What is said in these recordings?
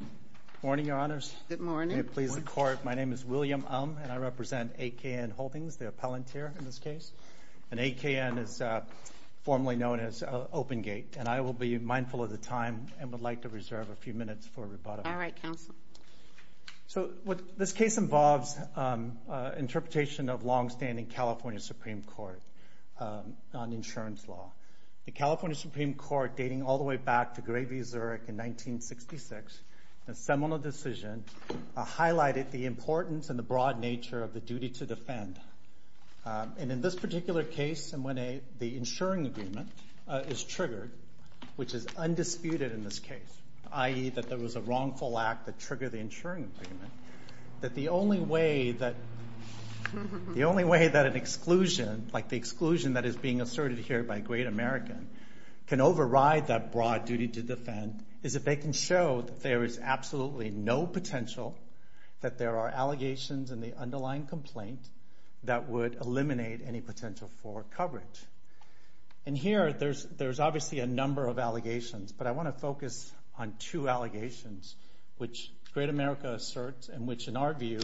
Good morning, Your Honors. Good morning. May it please the Court, my name is William Um and I represent AKN Holdings, the appellant here in this case, and AKN is formally known as Open Gate, and I will be mindful of the time and would like to reserve a few minutes for rebuttal. All right, counsel. So what this case involves interpretation of long-standing California Supreme Court on insurance law. The California Supreme Court, dating all the way back to Gray v. Zurich in 1966, a seminal decision highlighted the importance and the broad nature of the duty to defend. And in this particular case, and when the insuring agreement is triggered, which is undisputed in this case, i.e. that there was a wrongful act that triggered the insuring agreement, that the only way that the only way that an exclusion, like the exclusion that is being asserted here by Great American, can override that broad duty to defend is if they can show that there is absolutely no potential, that there are allegations in the underlying complaint that would eliminate any potential for coverage. And here there's obviously a number of allegations, but I want to focus on two allegations which Great America asserts and which, in our view,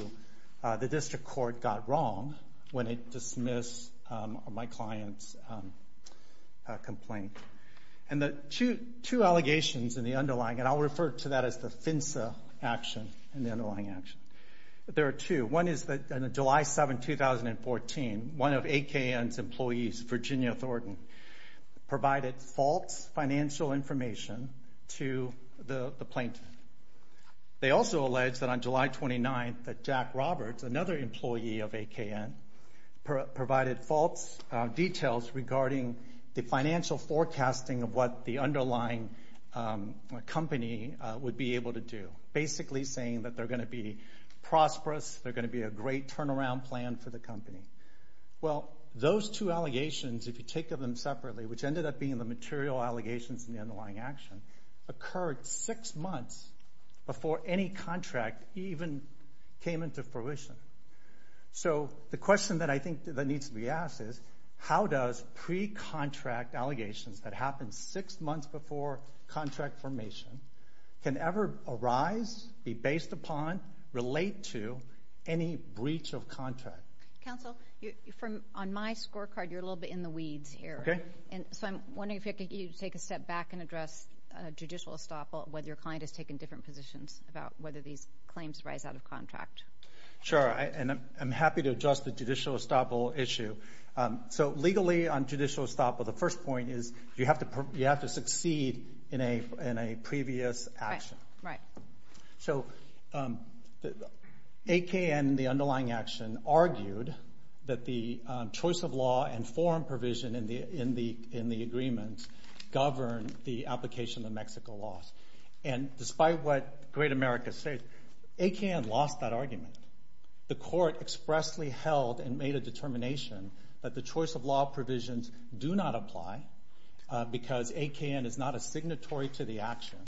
the District Court got wrong when it dismissed my client's complaint. And the two allegations in the underlying, and I'll refer to that as the FINSA action in the underlying action, there are two. One is that on July 7, 2014, one of AKN's employees, Virginia Thornton, provided false financial information to the plaintiff. They also alleged that on July 29, that Jack Roberts, another employee of AKN, provided false details regarding the financial forecasting of what the underlying company would be able to do, basically saying that they're going to be prosperous, they're going to be a great turnaround plan for the company. Well, those two allegations, if you take of them separately, which ended up being the material allegations in the underlying action, occurred six months before any contract even came into fruition. So the question that I think that needs to be asked is, how does pre-contract allegations that happened six months before contract formation can ever arise, be based upon, relate to any breach of contract? Counsel, on my scorecard, you're a little bit in the weeds here. Okay. And so I'm wondering if you could take a step back and address judicial estoppel, whether your client has taken different positions about whether these claims rise out of contract. Sure, and I'm happy to address the judicial estoppel issue. So legally, on judicial estoppel, the have to succeed in a previous action. Right. So AKN, the underlying action, argued that the choice of law and foreign provision in the agreements govern the application of the Mexico laws. And despite what Great America says, AKN lost that argument. The court expressly held and made a because AKN is not a signatory to the action.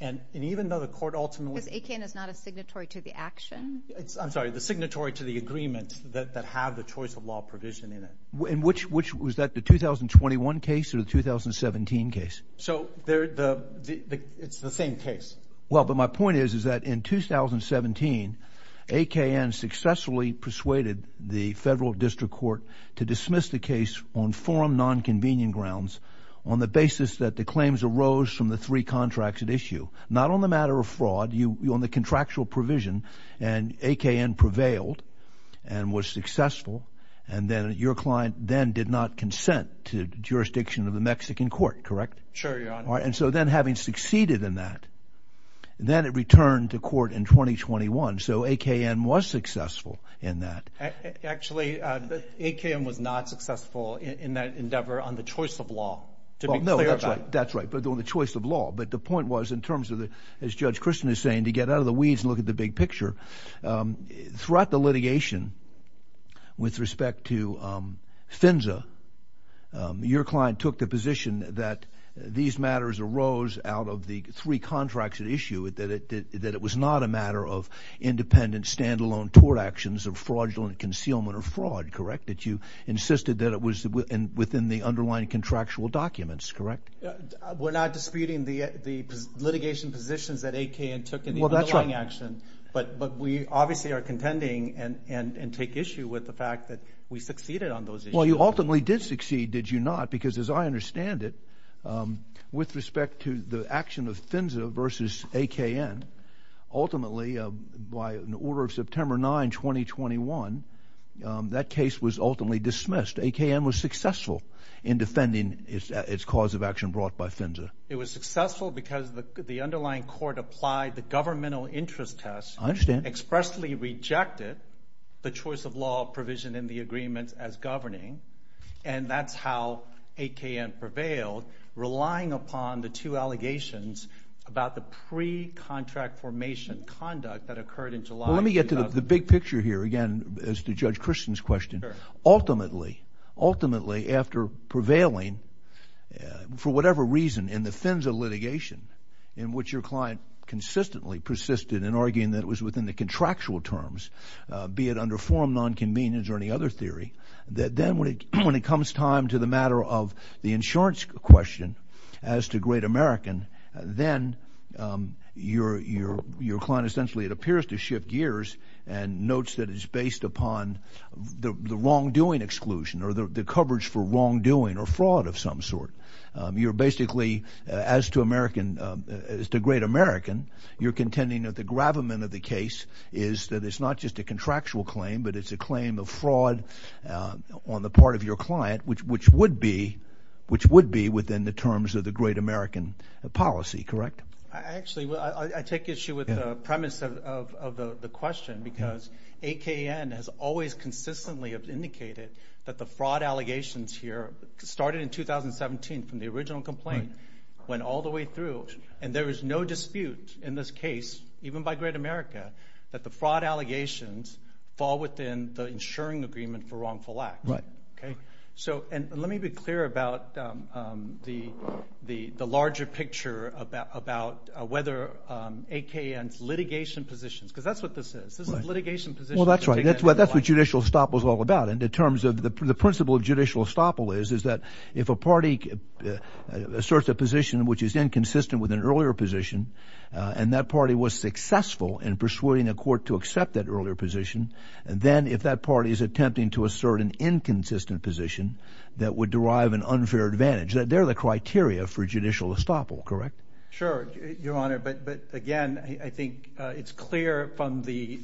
And even though the court ultimately... Because AKN is not a signatory to the action? I'm sorry, the signatory to the agreements that have the choice of law provision in it. Which was that, the 2021 case or the 2017 case? So it's the same case. Well, but my point is, is that in 2017, AKN successfully persuaded the Federal District Court to dismiss the case on forum non-convenient grounds, on the basis that the claims arose from the three contracts at issue. Not on the matter of fraud, on the contractual provision, and AKN prevailed and was successful. And then your client then did not consent to the jurisdiction of the Mexican court, correct? Sure, Your Honor. And so then having succeeded in that, then it returned to court in 2021. So AKN was successful in that. Actually, AKN was not successful in that endeavor on the choice of law, to be clear about. Well, no, that's right. That's right, but on the choice of law. But the point was, in terms of the... As Judge Christian is saying, to get out of the weeds and look at the big picture. Throughout the litigation, with respect to FINSA, your client took the position that these matters arose out of the three contracts at issue, that it was not a matter of independent, standalone tort actions of fraudulent concealment or fraud, correct? That you insisted that it was within the underlying contractual documents, correct? We're not disputing the litigation positions that AKN took in the underlying action, but we obviously are contending and take issue with the fact that we succeeded on those issues. Well, you ultimately did succeed, did you not? Because as I understand it, with respect to the action of FINSA versus AKN, ultimately, by an order of September 9, 2021, that case was ultimately dismissed. AKN was successful in defending its cause of action brought by FINSA. It was successful because the underlying court applied the governmental interest test. I understand. Expressly rejected the choice of law provision in the agreement as governing, and that's how AKN prevailed, relying upon the two allegations about the pre-contract formation conduct that occurred in July of 2000. Well, let me get to the big picture here, again, as to Judge Christian's question. Sure. Ultimately, ultimately, after prevailing, for whatever reason, in the FINSA litigation, in which your client consistently persisted in arguing that it was within the contractual terms, be it under forum non-convenience or any other theory, that then when it comes time to the matter of the insurance question, as to Great American, then your client essentially, it appears to shift gears and notes that it's based upon the wrongdoing exclusion or the coverage for wrongdoing or fraud of some sort. You're basically, as to American, as to Great American, you're contending that the gravamen of the case is that it's not just a contractual claim, but it's a claim of fraud on the part of your client, which would be within the terms of the Great American policy, correct? Actually, I take issue with the premise of the question, because AKN has always consistently indicated that the fraud allegations here, started in 2017 from the original complaint, went all the way through, and there is no dispute in this case, even by Great America, that the fraud allegations fall within the insuring agreement for wrongful act. Okay. So, and let me be clear about the larger picture about whether AKN's litigation positions, because that's what this is. This is litigation positions. Well, that's right. That's what judicial estoppel is all about. In terms of the principle of judicial estoppel is, is that if a party asserts a position which is inconsistent with an earlier position, and that party was successful in persuading a court to accept that earlier position, and then if that party is attempting to assert an inconsistent position that would derive an unfair advantage, that they're the criteria for judicial estoppel, correct? Sure, Your Honor, but again, I think it's clear from the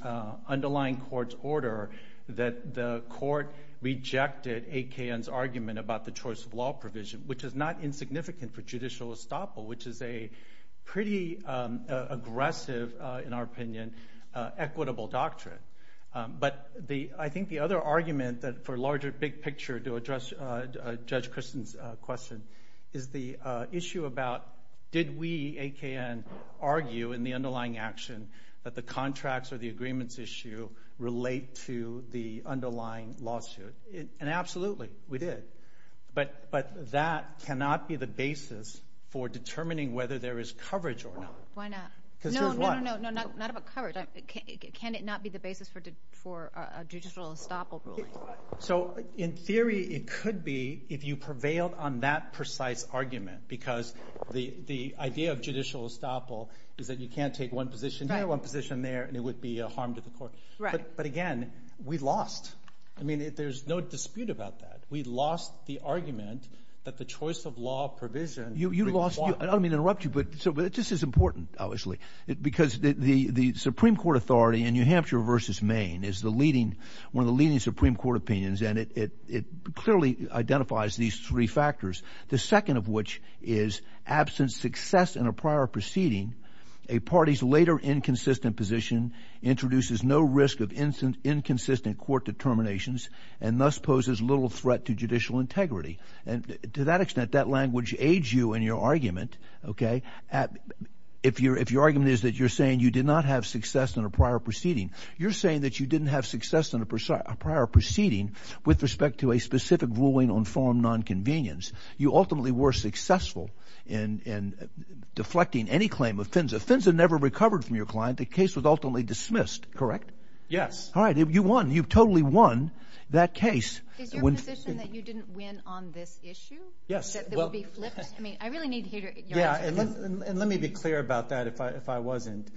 underlying court's order that the court rejected AKN's argument about the choice of law provision, which is not insignificant for judicial estoppel, which is a pretty aggressive, in our opinion, equitable doctrine. But the, I think the other argument that for larger big picture to address Judge Christen's question is the issue about, did we, AKN, argue in the underlying action that the contracts or the agreements issue relate to the underlying lawsuit? And absolutely, we did. But that cannot be the basis for determining whether there is coverage or not. Why not? Because here's why. No, no, no, no, not about coverage. Can it not be the basis for a judicial estoppel ruling? So in theory, it could be if you prevailed on that precise argument, because the idea of judicial estoppel is that you can't take one position here, one position there, and it would be a harm to the court. But again, we lost. I mean, there's no dispute about that. We lost the argument that the choice of law provision. You lost, I don't mean to interrupt you, but this is important, obviously, because the Supreme Court authority in New Hampshire versus Maine is the leading, one of the leading Supreme Court opinions, and it clearly identifies these three factors, the second of which is absence success in a prior proceeding, a party's later inconsistent position introduces no risk of inconsistent court determinations, and thus poses little threat to judicial integrity. And to that extent, that language aids you in your argument, okay? If your argument is that you're saying you did not have success in a prior proceeding, you're saying that you didn't have success in a prior proceeding with respect to a specific ruling on farm nonconvenience. You ultimately were successful in deflecting any claim of offense. The offense had never recovered from your client. The case was ultimately dismissed, correct? Yes. All right, you won. You totally won that case. Is your position that you didn't win on this issue? Yes. That it would be flipped? I mean, I really need to hear your answer. Yeah, and let me be clear about that if I wasn't.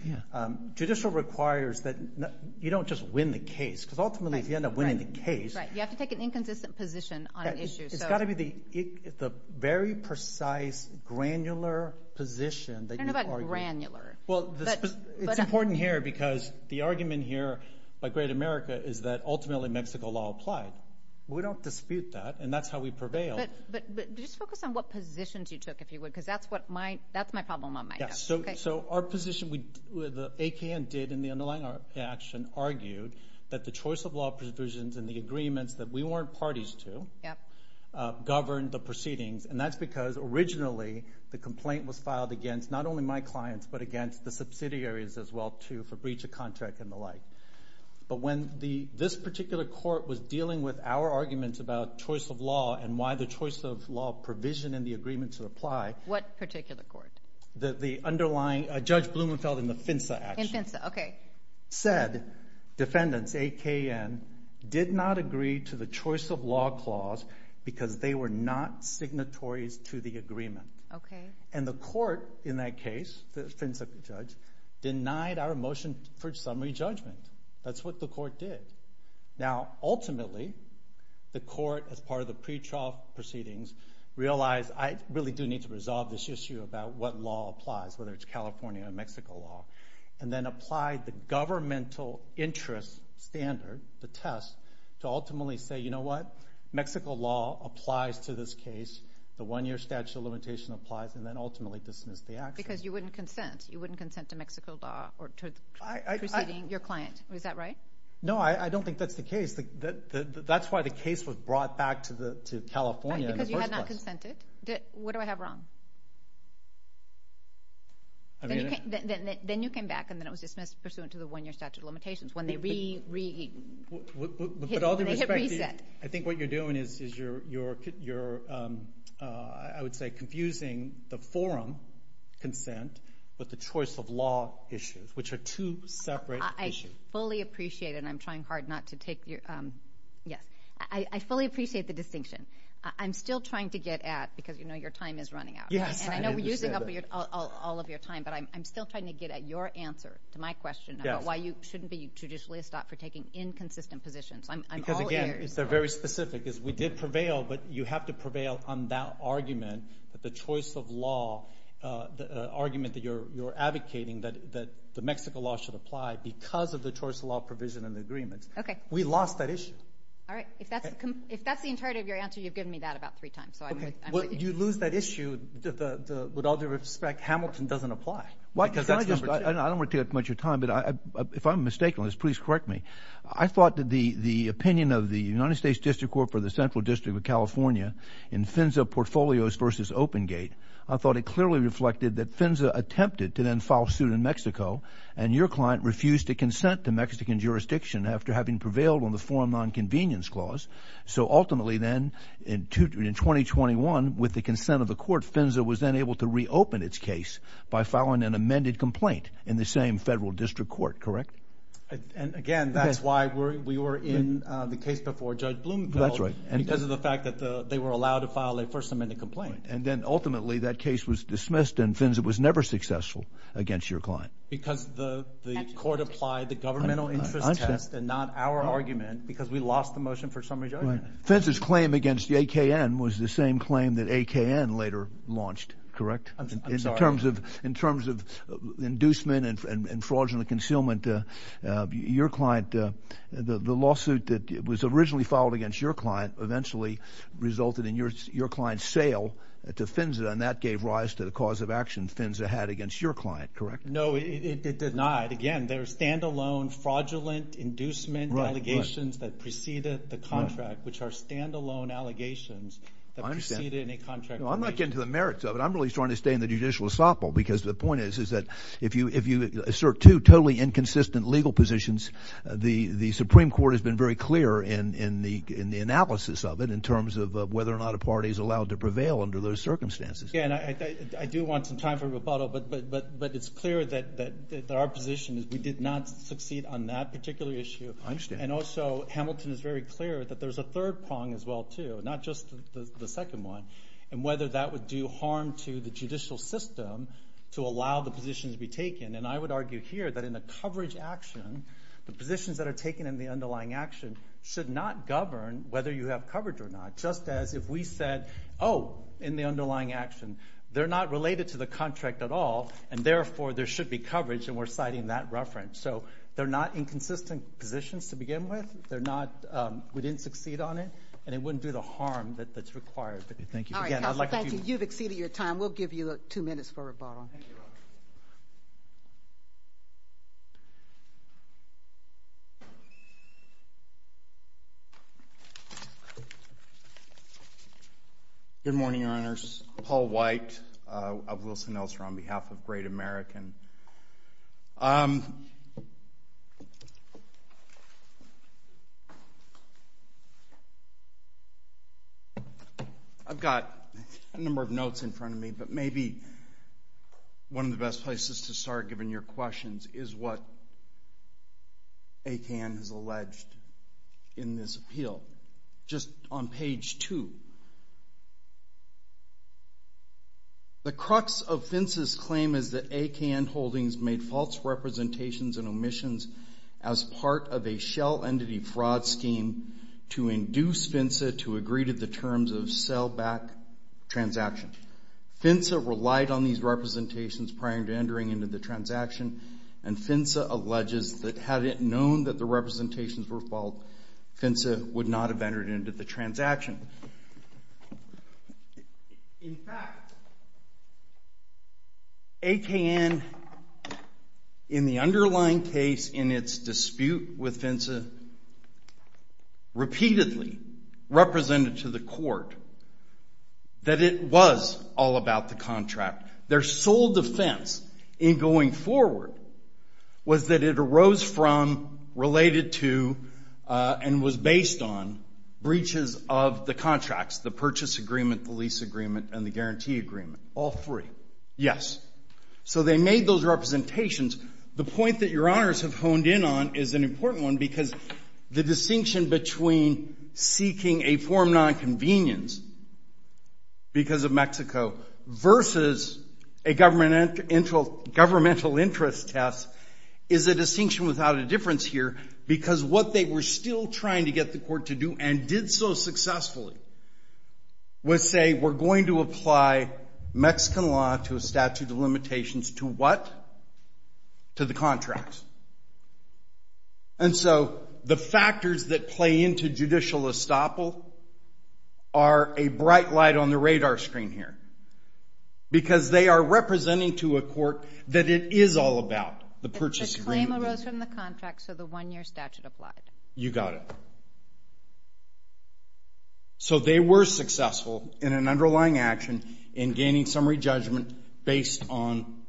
Judicial requires that you don't just win the case, because ultimately, if you end up winning the case... Right, you have to take an inconsistent position on an issue, so... It's got to be the very precise, granular position that you are using. I don't know about granular. Well, it's important here, because the argument here by Great America is that ultimately Mexico law applied. We don't dispute that, and that's how we prevail. But just focus on what positions you took, if you would, because that's my problem on my end. So our position, the AKN did in the underlying action, argued that the choice of law provisions and the agreements that we weren't parties to governed the proceedings, and that's because originally, the complaint was filed against not only my clients, but against the subsidiaries as well, too, for breach of contract and the like. But when this particular court was dealing with our arguments about choice of law and why the choice of law provision in the agreement to apply... What particular court? The underlying... Judge Blumenfeld in the FINSA action. In FINSA, okay. Said defendants, AKN, did not agree to the choice of law clause because they were not signatories to the agreement. Okay. And the court in that case, the FINSA judge, denied our motion for summary judgment. That's what the court did. Now, ultimately, the court, as part of the pretrial proceedings, realized, I really do need to resolve this issue about what law applies, whether it's California or Mexico law, and then applied the governmental interest standard, the test, to ultimately say, you know what? Mexico law applies to this case. The one-year statute of limitation applies, and then ultimately dismiss the action. Because you wouldn't consent. You wouldn't consent to Mexico law or to proceeding your client. Is that right? No, I don't think that's the case. That's why the case was brought back to California in the first place. Because you had not consented. What do I have wrong? I mean... Then you came back, and then it was dismissed pursuant to the one-year statute of limitations when they hit reset. I think what you're doing is you're, I would say, confusing the forum consent with the choice of law issues, which are two separate issues. I fully appreciate it, and I'm trying hard not to take your... Yes. I fully appreciate the distinction. I'm still trying to get at... Because, you know, your time is running out. Yes, I understand that. And I know we're using up all of your time, but I'm still trying to get at your answer to my question about why you shouldn't be traditionally stopped for taking inconsistent positions. I'm all ears. Because, again, it's very specific. We did prevail, but you have to prevail on that argument, the choice of law, the argument that you're advocating that the Mexico law should apply because of the choice of law provision in the agreement. Okay. We lost that issue. All right. If that's the entirety of your answer, you've given me that about three times, so I'm with you. Well, you lose that issue. With all due respect, Hamilton doesn't apply. I don't want to take up much of your time, but if I'm mistaken on this, please correct me. I thought that the opinion of the United States District Court for the Central District of California in FINSA Portfolios v. OpenGate, I thought it clearly reflected that FINSA attempted to then file suit in Mexico, and your client refused to consent to Mexican jurisdiction after having prevailed on the Foreign Nonconvenience Clause. So, ultimately, then, in 2021, with the consent of the court, FINSA was then able to reopen its case by filing an amended complaint in the same federal district court, correct? And, again, that's why we were in the case before Judge Blumenfeld. That's right. Because of the fact that they were allowed to file a first amendment complaint. And then, ultimately, that case was dismissed, and FINSA was never successful against your client. Because the court applied the governmental interest test and not our argument because we lost the motion for summary judgment. FINSA's claim against AKN was the same claim that AKN later launched, correct? I'm sorry. In terms of inducement and fraudulent concealment, your client, the lawsuit that was originally filed against your client eventually resulted in your client's sale to FINSA, and that gave rise to the cause of action FINSA had against your client, correct? No, it did not. Again, there are stand-alone fraudulent inducement allegations that preceded the contract, which are stand-alone allegations that preceded a contract. I'm not getting to the merits of it. I'm really trying to stay in the judicial esophole because the point is that if you assert two totally inconsistent legal positions, the Supreme Court has been very clear in the analysis of it in terms of whether or not a party is allowed to prevail under those circumstances. Yeah, and I do want some time for rebuttal, but it's clear that our position is we did not succeed on that particular issue. I understand. And also, Hamilton is very clear that there's a third prong as well, too, not just the second one, and whether that would do harm to the judicial system to allow the positions to be taken. And I would argue here that in the coverage action, the positions that are taken in the underlying action should not govern whether you have coverage or not, just as if we said, oh, in the underlying action, they're not related to the contract at all, and therefore there should be coverage, and we're citing that reference. So they're not inconsistent positions to begin with. They're not we didn't succeed on it, and it wouldn't do the harm that's required. Thank you. All right, counsel, thank you. You've exceeded your time. We'll give you two minutes for rebuttal. Thank you. Good morning, Your Honors. Paul White of Wilson-Elster on behalf of Great American. I've got a number of notes in front of me, but maybe one of the best places to start, given your questions, is what ACAN has alleged in this appeal. Just on page 2. The crux of FINSA's claim is that ACAN holdings made false representations and omissions as part of a shell entity fraud scheme to induce FINSA to agree to the terms of sellback transaction. FINSA relied on these representations prior to entering into the transaction, and FINSA alleges that had it known that the representations were false, FINSA would not have entered into the transaction. In fact, ACAN, in the underlying case in its dispute with FINSA, repeatedly represented to the court that it was all about the contract. Their sole defense in going forward was that it arose from, related to, and was based on breaches of the contracts, the purchase agreement, the lease agreement, and the guarantee agreement, all three. Yes. So they made those representations. The point that Your Honors have honed in on is an important one, because the distinction between seeking a form of nonconvenience because of Mexico versus a governmental interest test is a distinction without a difference here, because what they were still trying to get the court to do, and did so successfully, was say we're going to apply Mexican law to a statute of limitations to what? To the contracts. And so the factors that play into judicial estoppel are a bright light on the radar screen here, because they are representing to a court that it is all about the purchase agreement. The claim arose from the contract, so the one-year statute applied. You got it. So they were successful in an underlying action in gaining summary judgment based on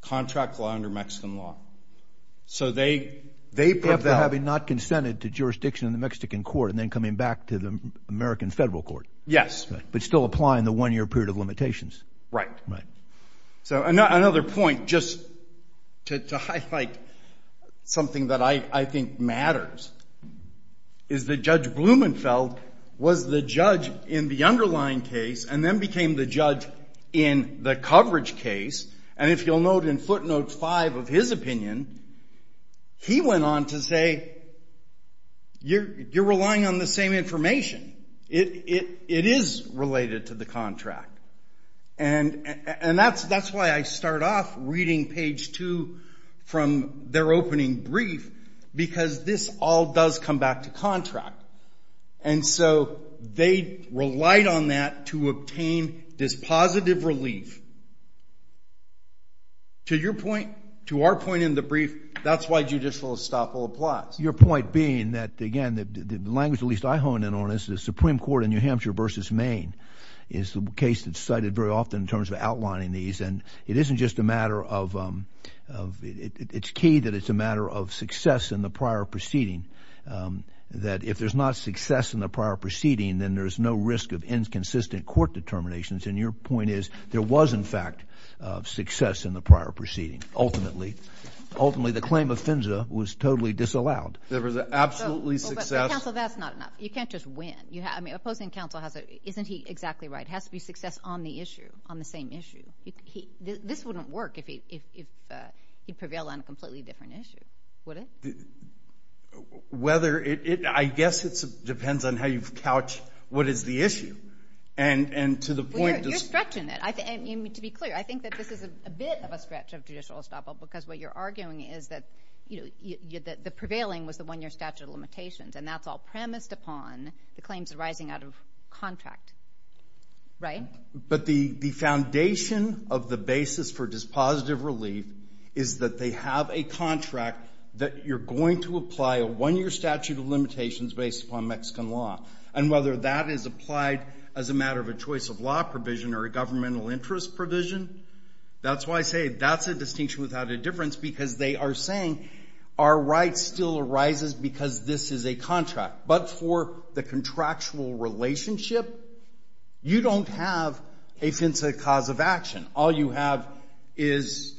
contract law under Mexican law. So they preferred that. They preferred having not consented to jurisdiction in the Mexican court and then coming back to the American federal court. Yes. But still applying the one-year period of limitations. Right. Right. So another point, just to highlight something that I think matters, is that Judge Blumenfeld was the judge in the underlying case and then became the judge in the coverage case. And if you'll note in footnote 5 of his opinion, he went on to say you're relying on the same information. It is related to the contract. And that's why I start off reading page 2 from their opening brief, because this all does come back to contract. And so they relied on that to obtain this positive relief. To your point, to our point in the brief, that's why judicial estoppel applies. Your point being that, again, the language at least I hone in on is the Supreme Court in New Hampshire versus Maine is the case that's cited very often in terms of outlining these. And it isn't just a matter of – it's key that it's a matter of success in the prior proceeding, that if there's not success in the prior proceeding, then there's no risk of inconsistent court determinations. And your point is there was, in fact, success in the prior proceeding. Ultimately, the claim of Finza was totally disallowed. There was absolutely success. Counsel, that's not enough. You can't just win. I mean, opposing counsel, isn't he exactly right? It has to be success on the issue, on the same issue. This wouldn't work if he prevailed on a completely different issue, would it? Whether it – I guess it depends on how you couch what is the issue. And to the point – You're stretching it. To be clear, I think that this is a bit of a stretch of judicial estoppel because what you're arguing is that the prevailing was the one-year statute of limitations, and that's all premised upon the claims arising out of contract, right? But the foundation of the basis for dispositive relief is that they have a contract that you're going to apply a one-year statute of limitations based upon Mexican law. And whether that is applied as a matter of a choice of law provision or a governmental interest provision, that's why I say that's a distinction without a difference because they are saying our right still arises because this is a contract. But for the contractual relationship, you don't have a Finza cause of action. All you have is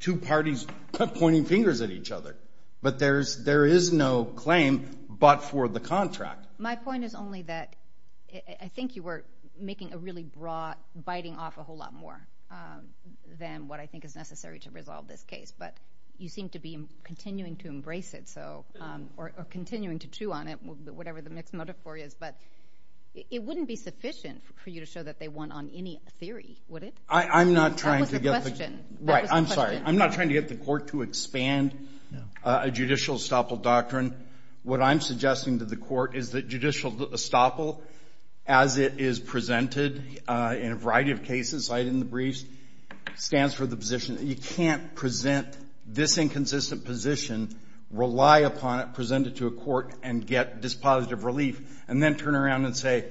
two parties pointing fingers at each other. But there is no claim but for the contract. My point is only that I think you were making a really broad – biting off a whole lot more than what I think is necessary to resolve this case. But you seem to be continuing to embrace it or continuing to chew on it, whatever the mixed metaphor is. But it wouldn't be sufficient for you to show that they won on any theory, would it? I'm not trying to get the court to expand a judicial estoppel doctrine. What I'm suggesting to the court is that judicial estoppel, as it is presented in a variety of cases cited in the briefs, stands for the position that you can't present this inconsistent position, rely upon it, present it to a court, and get dispositive relief, and then turn around and say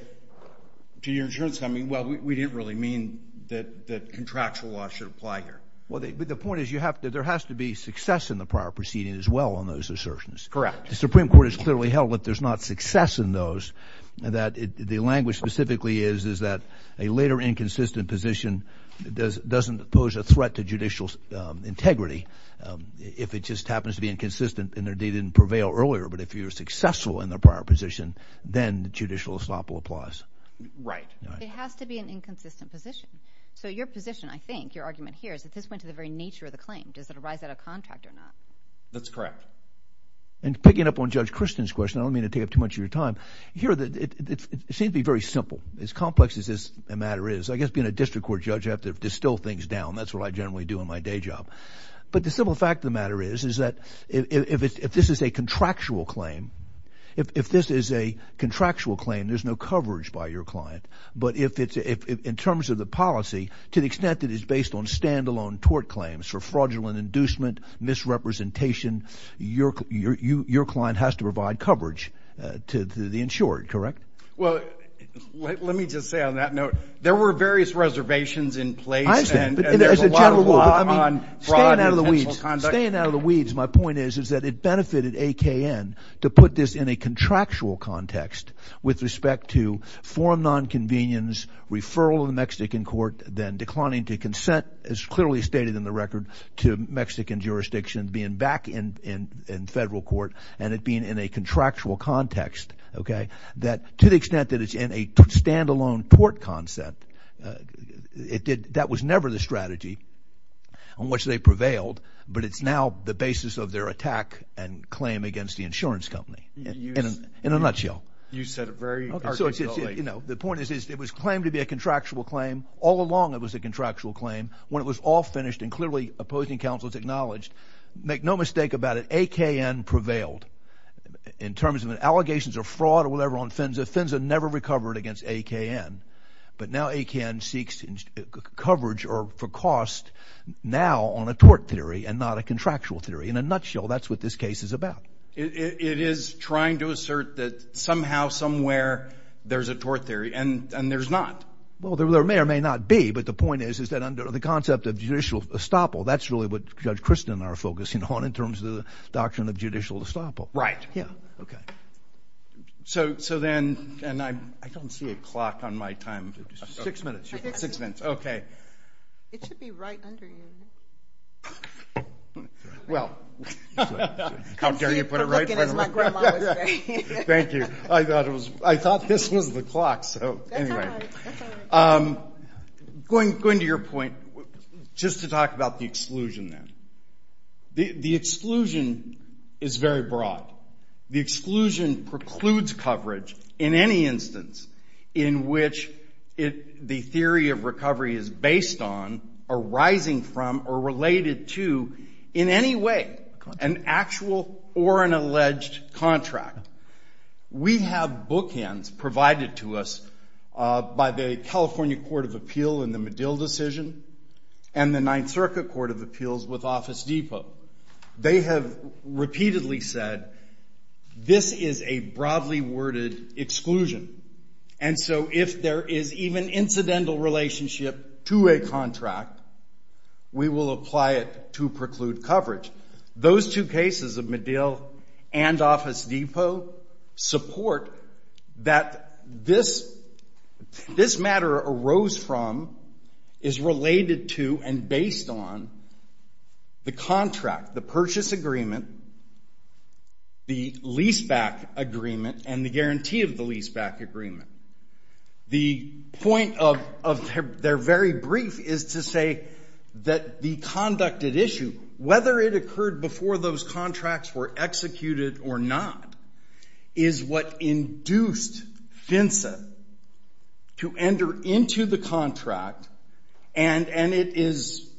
to your insurance company, well, we didn't really mean that contractual law should apply here. But the point is there has to be success in the prior proceeding as well on those assertions. Correct. The Supreme Court has clearly held that there's not success in those, that the language specifically is that a later inconsistent position doesn't pose a threat to judicial integrity if it just happens to be inconsistent and they didn't prevail earlier. But if you're successful in the prior position, then judicial estoppel applies. Right. It has to be an inconsistent position. So your position, I think, your argument here is that this went to the very nature of the claim. Does it arise out of contract or not? That's correct. And picking up on Judge Christian's question, I don't mean to take up too much of your time. It seems to be very simple. As complex as this matter is, I guess being a district court judge, you have to distill things down. That's what I generally do in my day job. But the simple fact of the matter is, is that if this is a contractual claim, if this is a contractual claim, there's no coverage by your client. But in terms of the policy, to the extent that it's based on stand-alone tort claims for fraudulent inducement, misrepresentation, your client has to provide coverage to the insured, correct? Well, let me just say on that note, there were various reservations in place. I understand. And there's a lot of law on fraud and intentional conduct. Staying out of the weeds, my point is, is that it benefited AKN to put this in a contractual context with respect to forum nonconvenience, referral to the Mexican court, then declining to consent, as clearly stated in the record, to Mexican jurisdiction, being back in federal court, and it being in a contractual context. To the extent that it's in a stand-alone tort concept, that was never the strategy on which they prevailed, but it's now the basis of their attack and claim against the insurance company, in a nutshell. You said it very articulately. The point is, it was claimed to be a contractual claim. All along, it was a contractual claim. When it was all finished and clearly opposing counsel was acknowledged, make no mistake about it, AKN prevailed. In terms of allegations of fraud or whatever on FINSA, FINSA never recovered against AKN. But now AKN seeks coverage or for cost now on a tort theory and not a contractual theory. In a nutshell, that's what this case is about. It is trying to assert that somehow, somewhere, there's a tort theory, and there's not. Well, there may or may not be, but the point is, is that under the concept of judicial estoppel, that's really what Judge Kristen and I are focusing on in terms of the doctrine of judicial estoppel. Right. Yeah. Okay. So then, and I don't see a clock on my time. Six minutes. Six minutes. Okay. It should be right under you. Well, how dare you put it right? I'm looking as my grandma was saying. Thank you. I thought this was the clock. That's all right. That's all right. Going to your point, just to talk about the exclusion there. The exclusion is very broad. The exclusion precludes coverage in any instance in which the theory of recovery is based on, arising from, or related to in any way an actual or an alleged contract. We have bookends provided to us by the California Court of Appeal in the Medill decision and the Ninth Circuit Court of Appeals with Office Depot. They have repeatedly said this is a broadly worded exclusion, and so if there is even incidental relationship to a contract, we will apply it to preclude coverage. Those two cases of Medill and Office Depot support that this matter arose from, is related to and based on the contract, the purchase agreement, the leaseback agreement, and the guarantee of the leaseback agreement. The point of their very brief is to say that the conducted issue, whether it occurred before those contracts were executed or not, is what induced FINSA to enter into the contract, and it is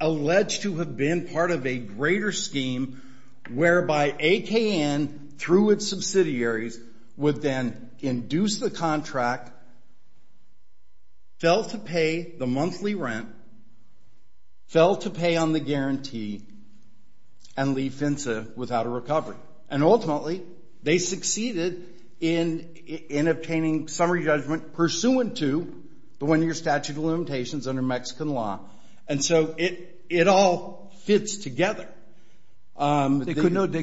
alleged to have been part of a greater scheme whereby AKN, through its subsidiaries, would then induce the contract, fell to pay the monthly rent, fell to pay on the guarantee, and leave FINSA without a recovery. And ultimately, they succeeded in obtaining summary judgment pursuant to the one-year statute of limitations under Mexican law. And so it all fits together. They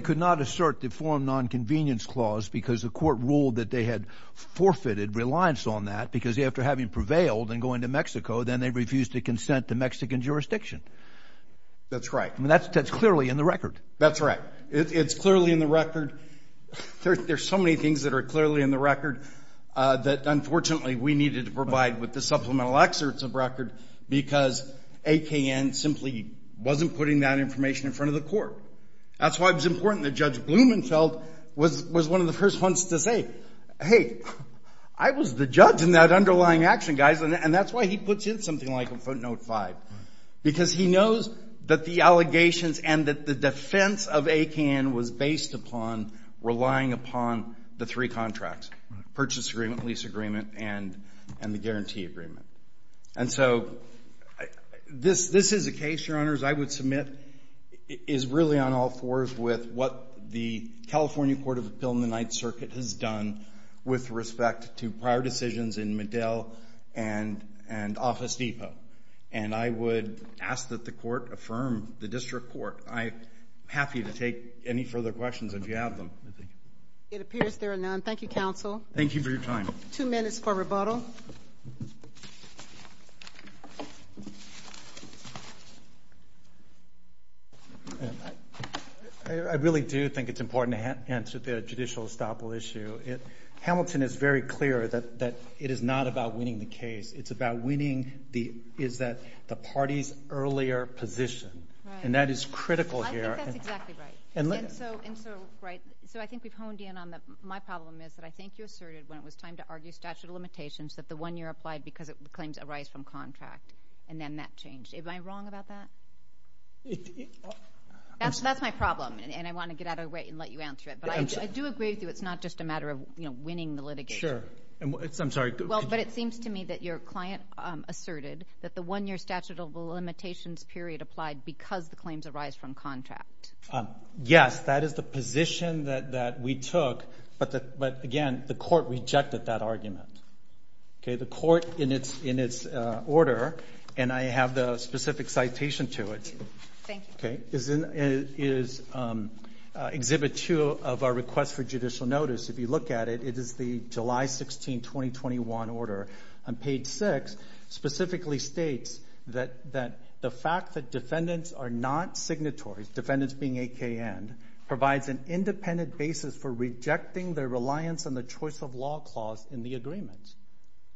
could not assert the forum nonconvenience clause because the court ruled that they had forfeited reliance on that because after having prevailed and going to Mexico, then they refused to consent to Mexican jurisdiction. That's right. That's clearly in the record. That's right. It's clearly in the record. There are so many things that are clearly in the record that unfortunately we needed to provide with the supplemental excerpts of record because AKN simply wasn't putting that information in front of the court. That's why it was important that Judge Blumenfeld was one of the first ones to say, hey, I was the judge in that underlying action, guys, and that's why he puts in something like a footnote 5 because he knows that the allegations and that the defense of AKN was based upon relying upon the three contracts, purchase agreement, lease agreement, and the guarantee agreement. And so this is a case, Your Honors, I would submit, is really on all fours with what the California Court of Appeal in the Ninth Circuit has done with respect to prior decisions in Medell and Office Depot. And I would ask that the court affirm the district court. I'm happy to take any further questions if you have them. It appears there are none. Thank you, counsel. Thank you for your time. Two minutes for rebuttal. I really do think it's important to answer the judicial estoppel issue. Hamilton is very clear that it is not about winning the case. It's about winning the parties' earlier position, and that is critical here. I think that's exactly right. And so I think we've honed in on that. My problem is that I think you asserted when it was time to argue statute of limitations that the one year applied because it claims a rise from contract, and then that changed. Am I wrong about that? That's my problem, and I want to get out of the way and let you answer it. But I do agree with you it's not just a matter of winning the litigation. Sure. I'm sorry. Well, but it seems to me that your client asserted that the one year statute of limitations period applied because the claims arise from contract. Yes, that is the position that we took. But, again, the court rejected that argument. Okay, the court in its order, and I have the specific citation to it. Thank you. Okay. It is Exhibit 2 of our request for judicial notice. If you look at it, it is the July 16, 2021 order. On page 6 specifically states that the fact that defendants are not signatories, defendants being AKN, provides an independent basis for rejecting their reliance on the choice of law clause in the agreements.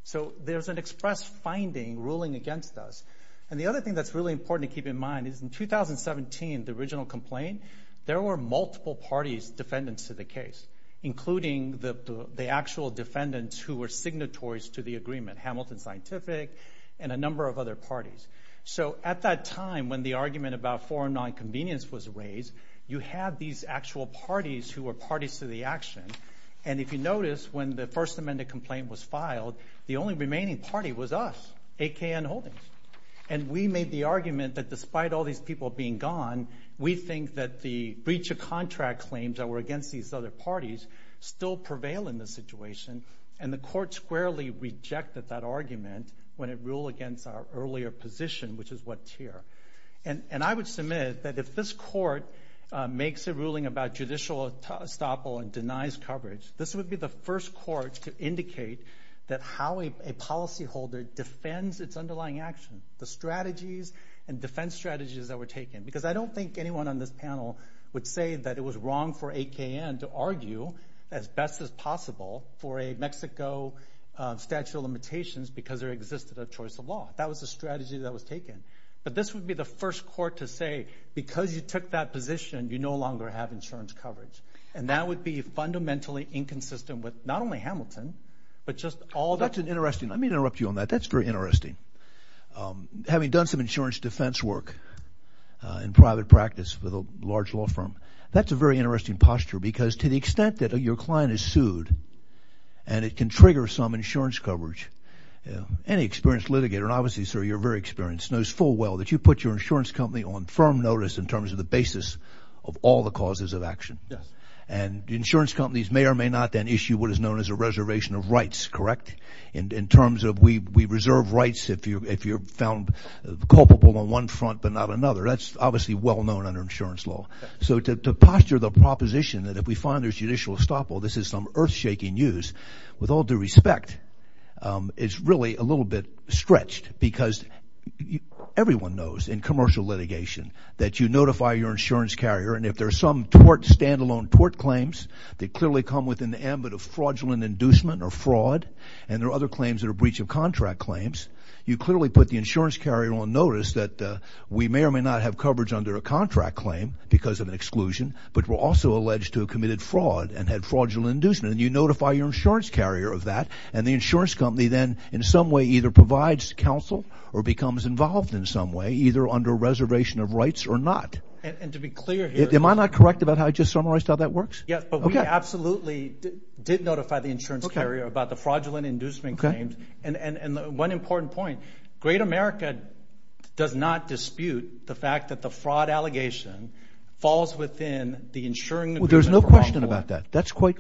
So there's an express finding ruling against us. And the other thing that's really important to keep in mind is in 2017, the original complaint, there were multiple parties defendants to the case, including the actual defendants who were signatories to the agreement, Hamilton Scientific and a number of other parties. So at that time when the argument about foreign nonconvenience was raised, you had these actual parties who were parties to the action. And if you notice, when the First Amendment complaint was filed, the only remaining party was us, AKN Holdings. And we made the argument that despite all these people being gone, we think that the breach of contract claims that were against these other parties still prevail in this situation. And the court squarely rejected that argument when it ruled against our earlier position, which is what's here. And I would submit that if this court makes a ruling about judicial estoppel and denies coverage, this would be the first court to indicate that how a policyholder defends its underlying action, the strategies and defense strategies that were taken. Because I don't think anyone on this panel would say that it was wrong for AKN to argue as best as possible for a Mexico statute of limitations because there existed a choice of law. That was the strategy that was taken. But this would be the first court to say because you took that position, you no longer have insurance coverage. And that would be fundamentally inconsistent with not only Hamilton but just all that. That's interesting. Let me interrupt you on that. That's very interesting. Having done some insurance defense work in private practice with a large law firm, that's a very interesting posture because to the extent that your client is sued and it can trigger some insurance coverage, any experienced litigator, and obviously, sir, you're very experienced, knows full well that you put your insurance company on firm notice in terms of the basis of all the causes of action. And the insurance companies may or may not then issue what is known as a reservation of rights, correct? In terms of we reserve rights if you're found culpable on one front but not another. That's obviously well known under insurance law. So to posture the proposition that if we find there's judicial estoppel, this is some earth-shaking news, with all due respect, it's really a little bit stretched because everyone knows in commercial litigation that you notify your insurance carrier and if there's some stand-alone tort claims that clearly come within the ambit of fraudulent inducement or fraud and there are other claims that are breach of contract claims, you clearly put the insurance carrier on notice that we may or may not have coverage under a contract claim because of an exclusion but we're also alleged to have committed fraud and had fraudulent inducement and you notify your insurance carrier of that and the insurance company then in some way either provides counsel or becomes involved in some way either under reservation of rights or not. And to be clear here... Am I not correct about how I just summarized how that works? Yes, but we absolutely did notify the insurance carrier about the fraudulent inducement claims and one important point, Great America does not dispute the fact that the fraud allegation falls within the insuring agreement. Well, there's no question about that.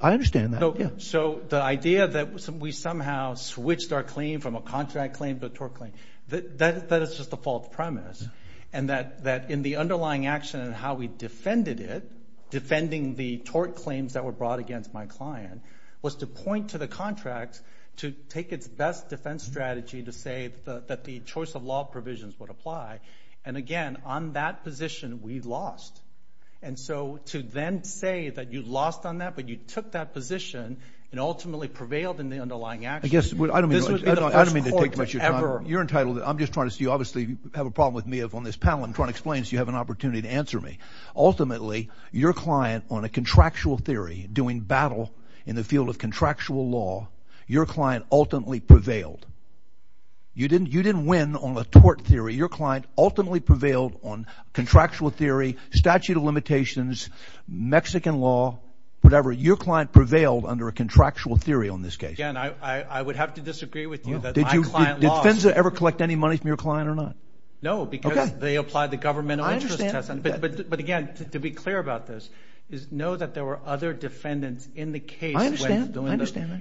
I understand that. So the idea that we somehow switched our claim from a contract claim to a tort claim, that is just a false premise and that in the underlying action and how we defended it, defending the tort claims that were brought against my client, was to point to the contract to take its best defense strategy to say that the choice of law provisions would apply and again on that position we lost. And so to then say that you lost on that but you took that position and ultimately prevailed in the underlying action, I don't mean to take too much of your time. You're entitled. I'm just trying to see. You obviously have a problem with me on this panel. I'm trying to explain so you have an opportunity to answer me. Ultimately, your client on a contractual theory doing battle in the field of contractual law, your client ultimately prevailed. You didn't win on a tort theory. Your client ultimately prevailed on contractual theory, statute of limitations, Mexican law, whatever. Your client prevailed under a contractual theory on this case. Again, I would have to disagree with you that my client lost. Did FINSA ever collect any money from your client or not? No, because they applied the governmental interest test. But again, to be clear about this, know that there were other defendants in the case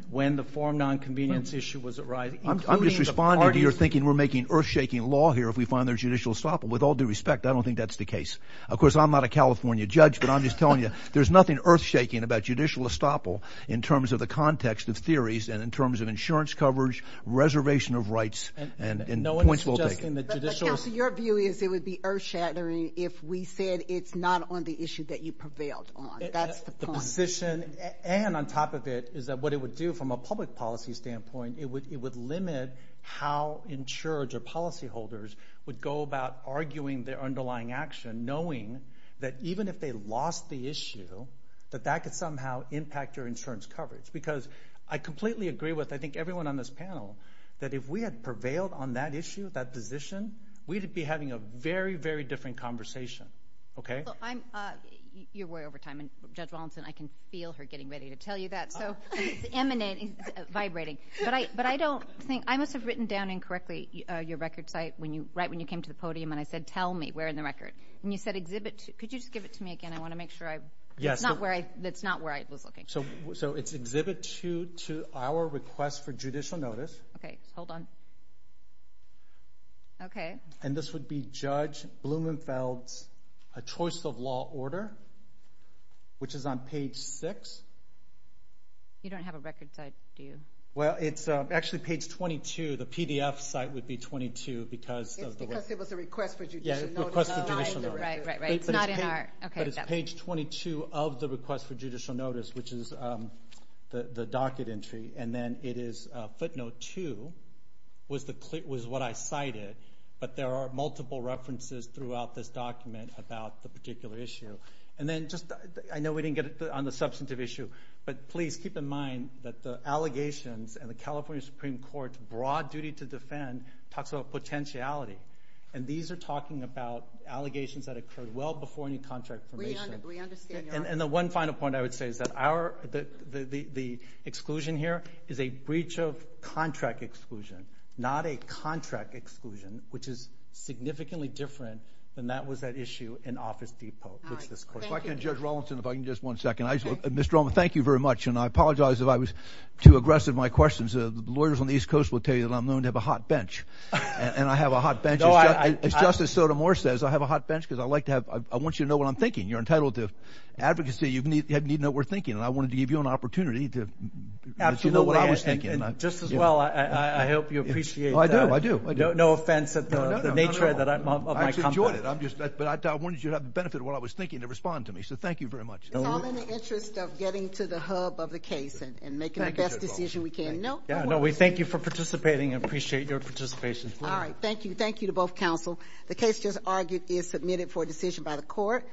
when the form non-convenience issue was arrived. I'm just responding to your thinking we're making earth-shaking law here if we find there's judicial estoppel. With all due respect, I don't think that's the case. Of course, I'm not a California judge, but I'm just telling you, there's nothing earth-shaking about judicial estoppel in terms of the context of theories and in terms of insurance coverage, reservation of rights, and points well taken. But, Counselor, your view is it would be earth-shattering if we said it's not on the issue that you prevailed on. That's the point. The position, and on top of it, is that what it would do from a public policy standpoint, it would limit how insureds or policyholders would go about arguing their underlying action knowing that even if they lost the issue, that that could somehow impact your insurance coverage. Because I completely agree with, I think, everyone on this panel, that if we had prevailed on that issue, that position, we'd be having a very, very different conversation. You're way over time, and Judge Wallinson, I can feel her getting ready to tell you that. It's emanating, it's vibrating. But I must have written down incorrectly your record site right when you came to the podium and I said, tell me, where in the record? And you said exhibit 2. Could you just give it to me again? I want to make sure. That's not where I was looking. So it's exhibit 2 to our request for judicial notice. Okay. Hold on. Okay. And this would be Judge Blumenfeld's choice of law order, which is on page 6. You don't have a record site, do you? Well, it's actually page 22. The PDF site would be 22. It's because it was a request for judicial notice. Yeah, request for judicial notice. Right, right, right. It's not in our, okay. But it's page 22 of the request for judicial notice, which is the docket entry, and then it is footnote 2 was what I cited, but there are multiple references throughout this document about the particular issue. And then just, I know we didn't get on the substantive issue, but please keep in mind that the allegations and the California Supreme Court's broad duty to defend talks about potentiality, and these are talking about allegations that occurred well before any contract formation. We understand that. And the one final point I would say is that the exclusion here is a breach of contract exclusion, not a contract exclusion, which is significantly different than that was at issue in Office Depot. All right. Thank you. If I can, Judge Rawlinson, if I can just one second. Mr. Ulman, thank you very much, and I apologize if I was too aggressive in my questions. The lawyers on the East Coast will tell you that I'm known to have a hot bench, and I have a hot bench. As Justice Sotomayor says, I have a hot bench because I like to have, I want you to know what I'm thinking. You're entitled to advocacy. You need to know what we're thinking, and I wanted to give you an opportunity to know what I was thinking. Absolutely, and just as well, I hope you appreciate that. I do, I do. No offense at the nature of my comment. I actually enjoyed it, but I wanted you to have the benefit of what I was thinking to respond to me, so thank you very much. It's all in the interest of getting to the hub of the case and making the best decision we can. Yeah, no, we thank you for participating and appreciate your participation. All right, thank you. Thank you to both counsel. The case just argued is submitted for decision by the court.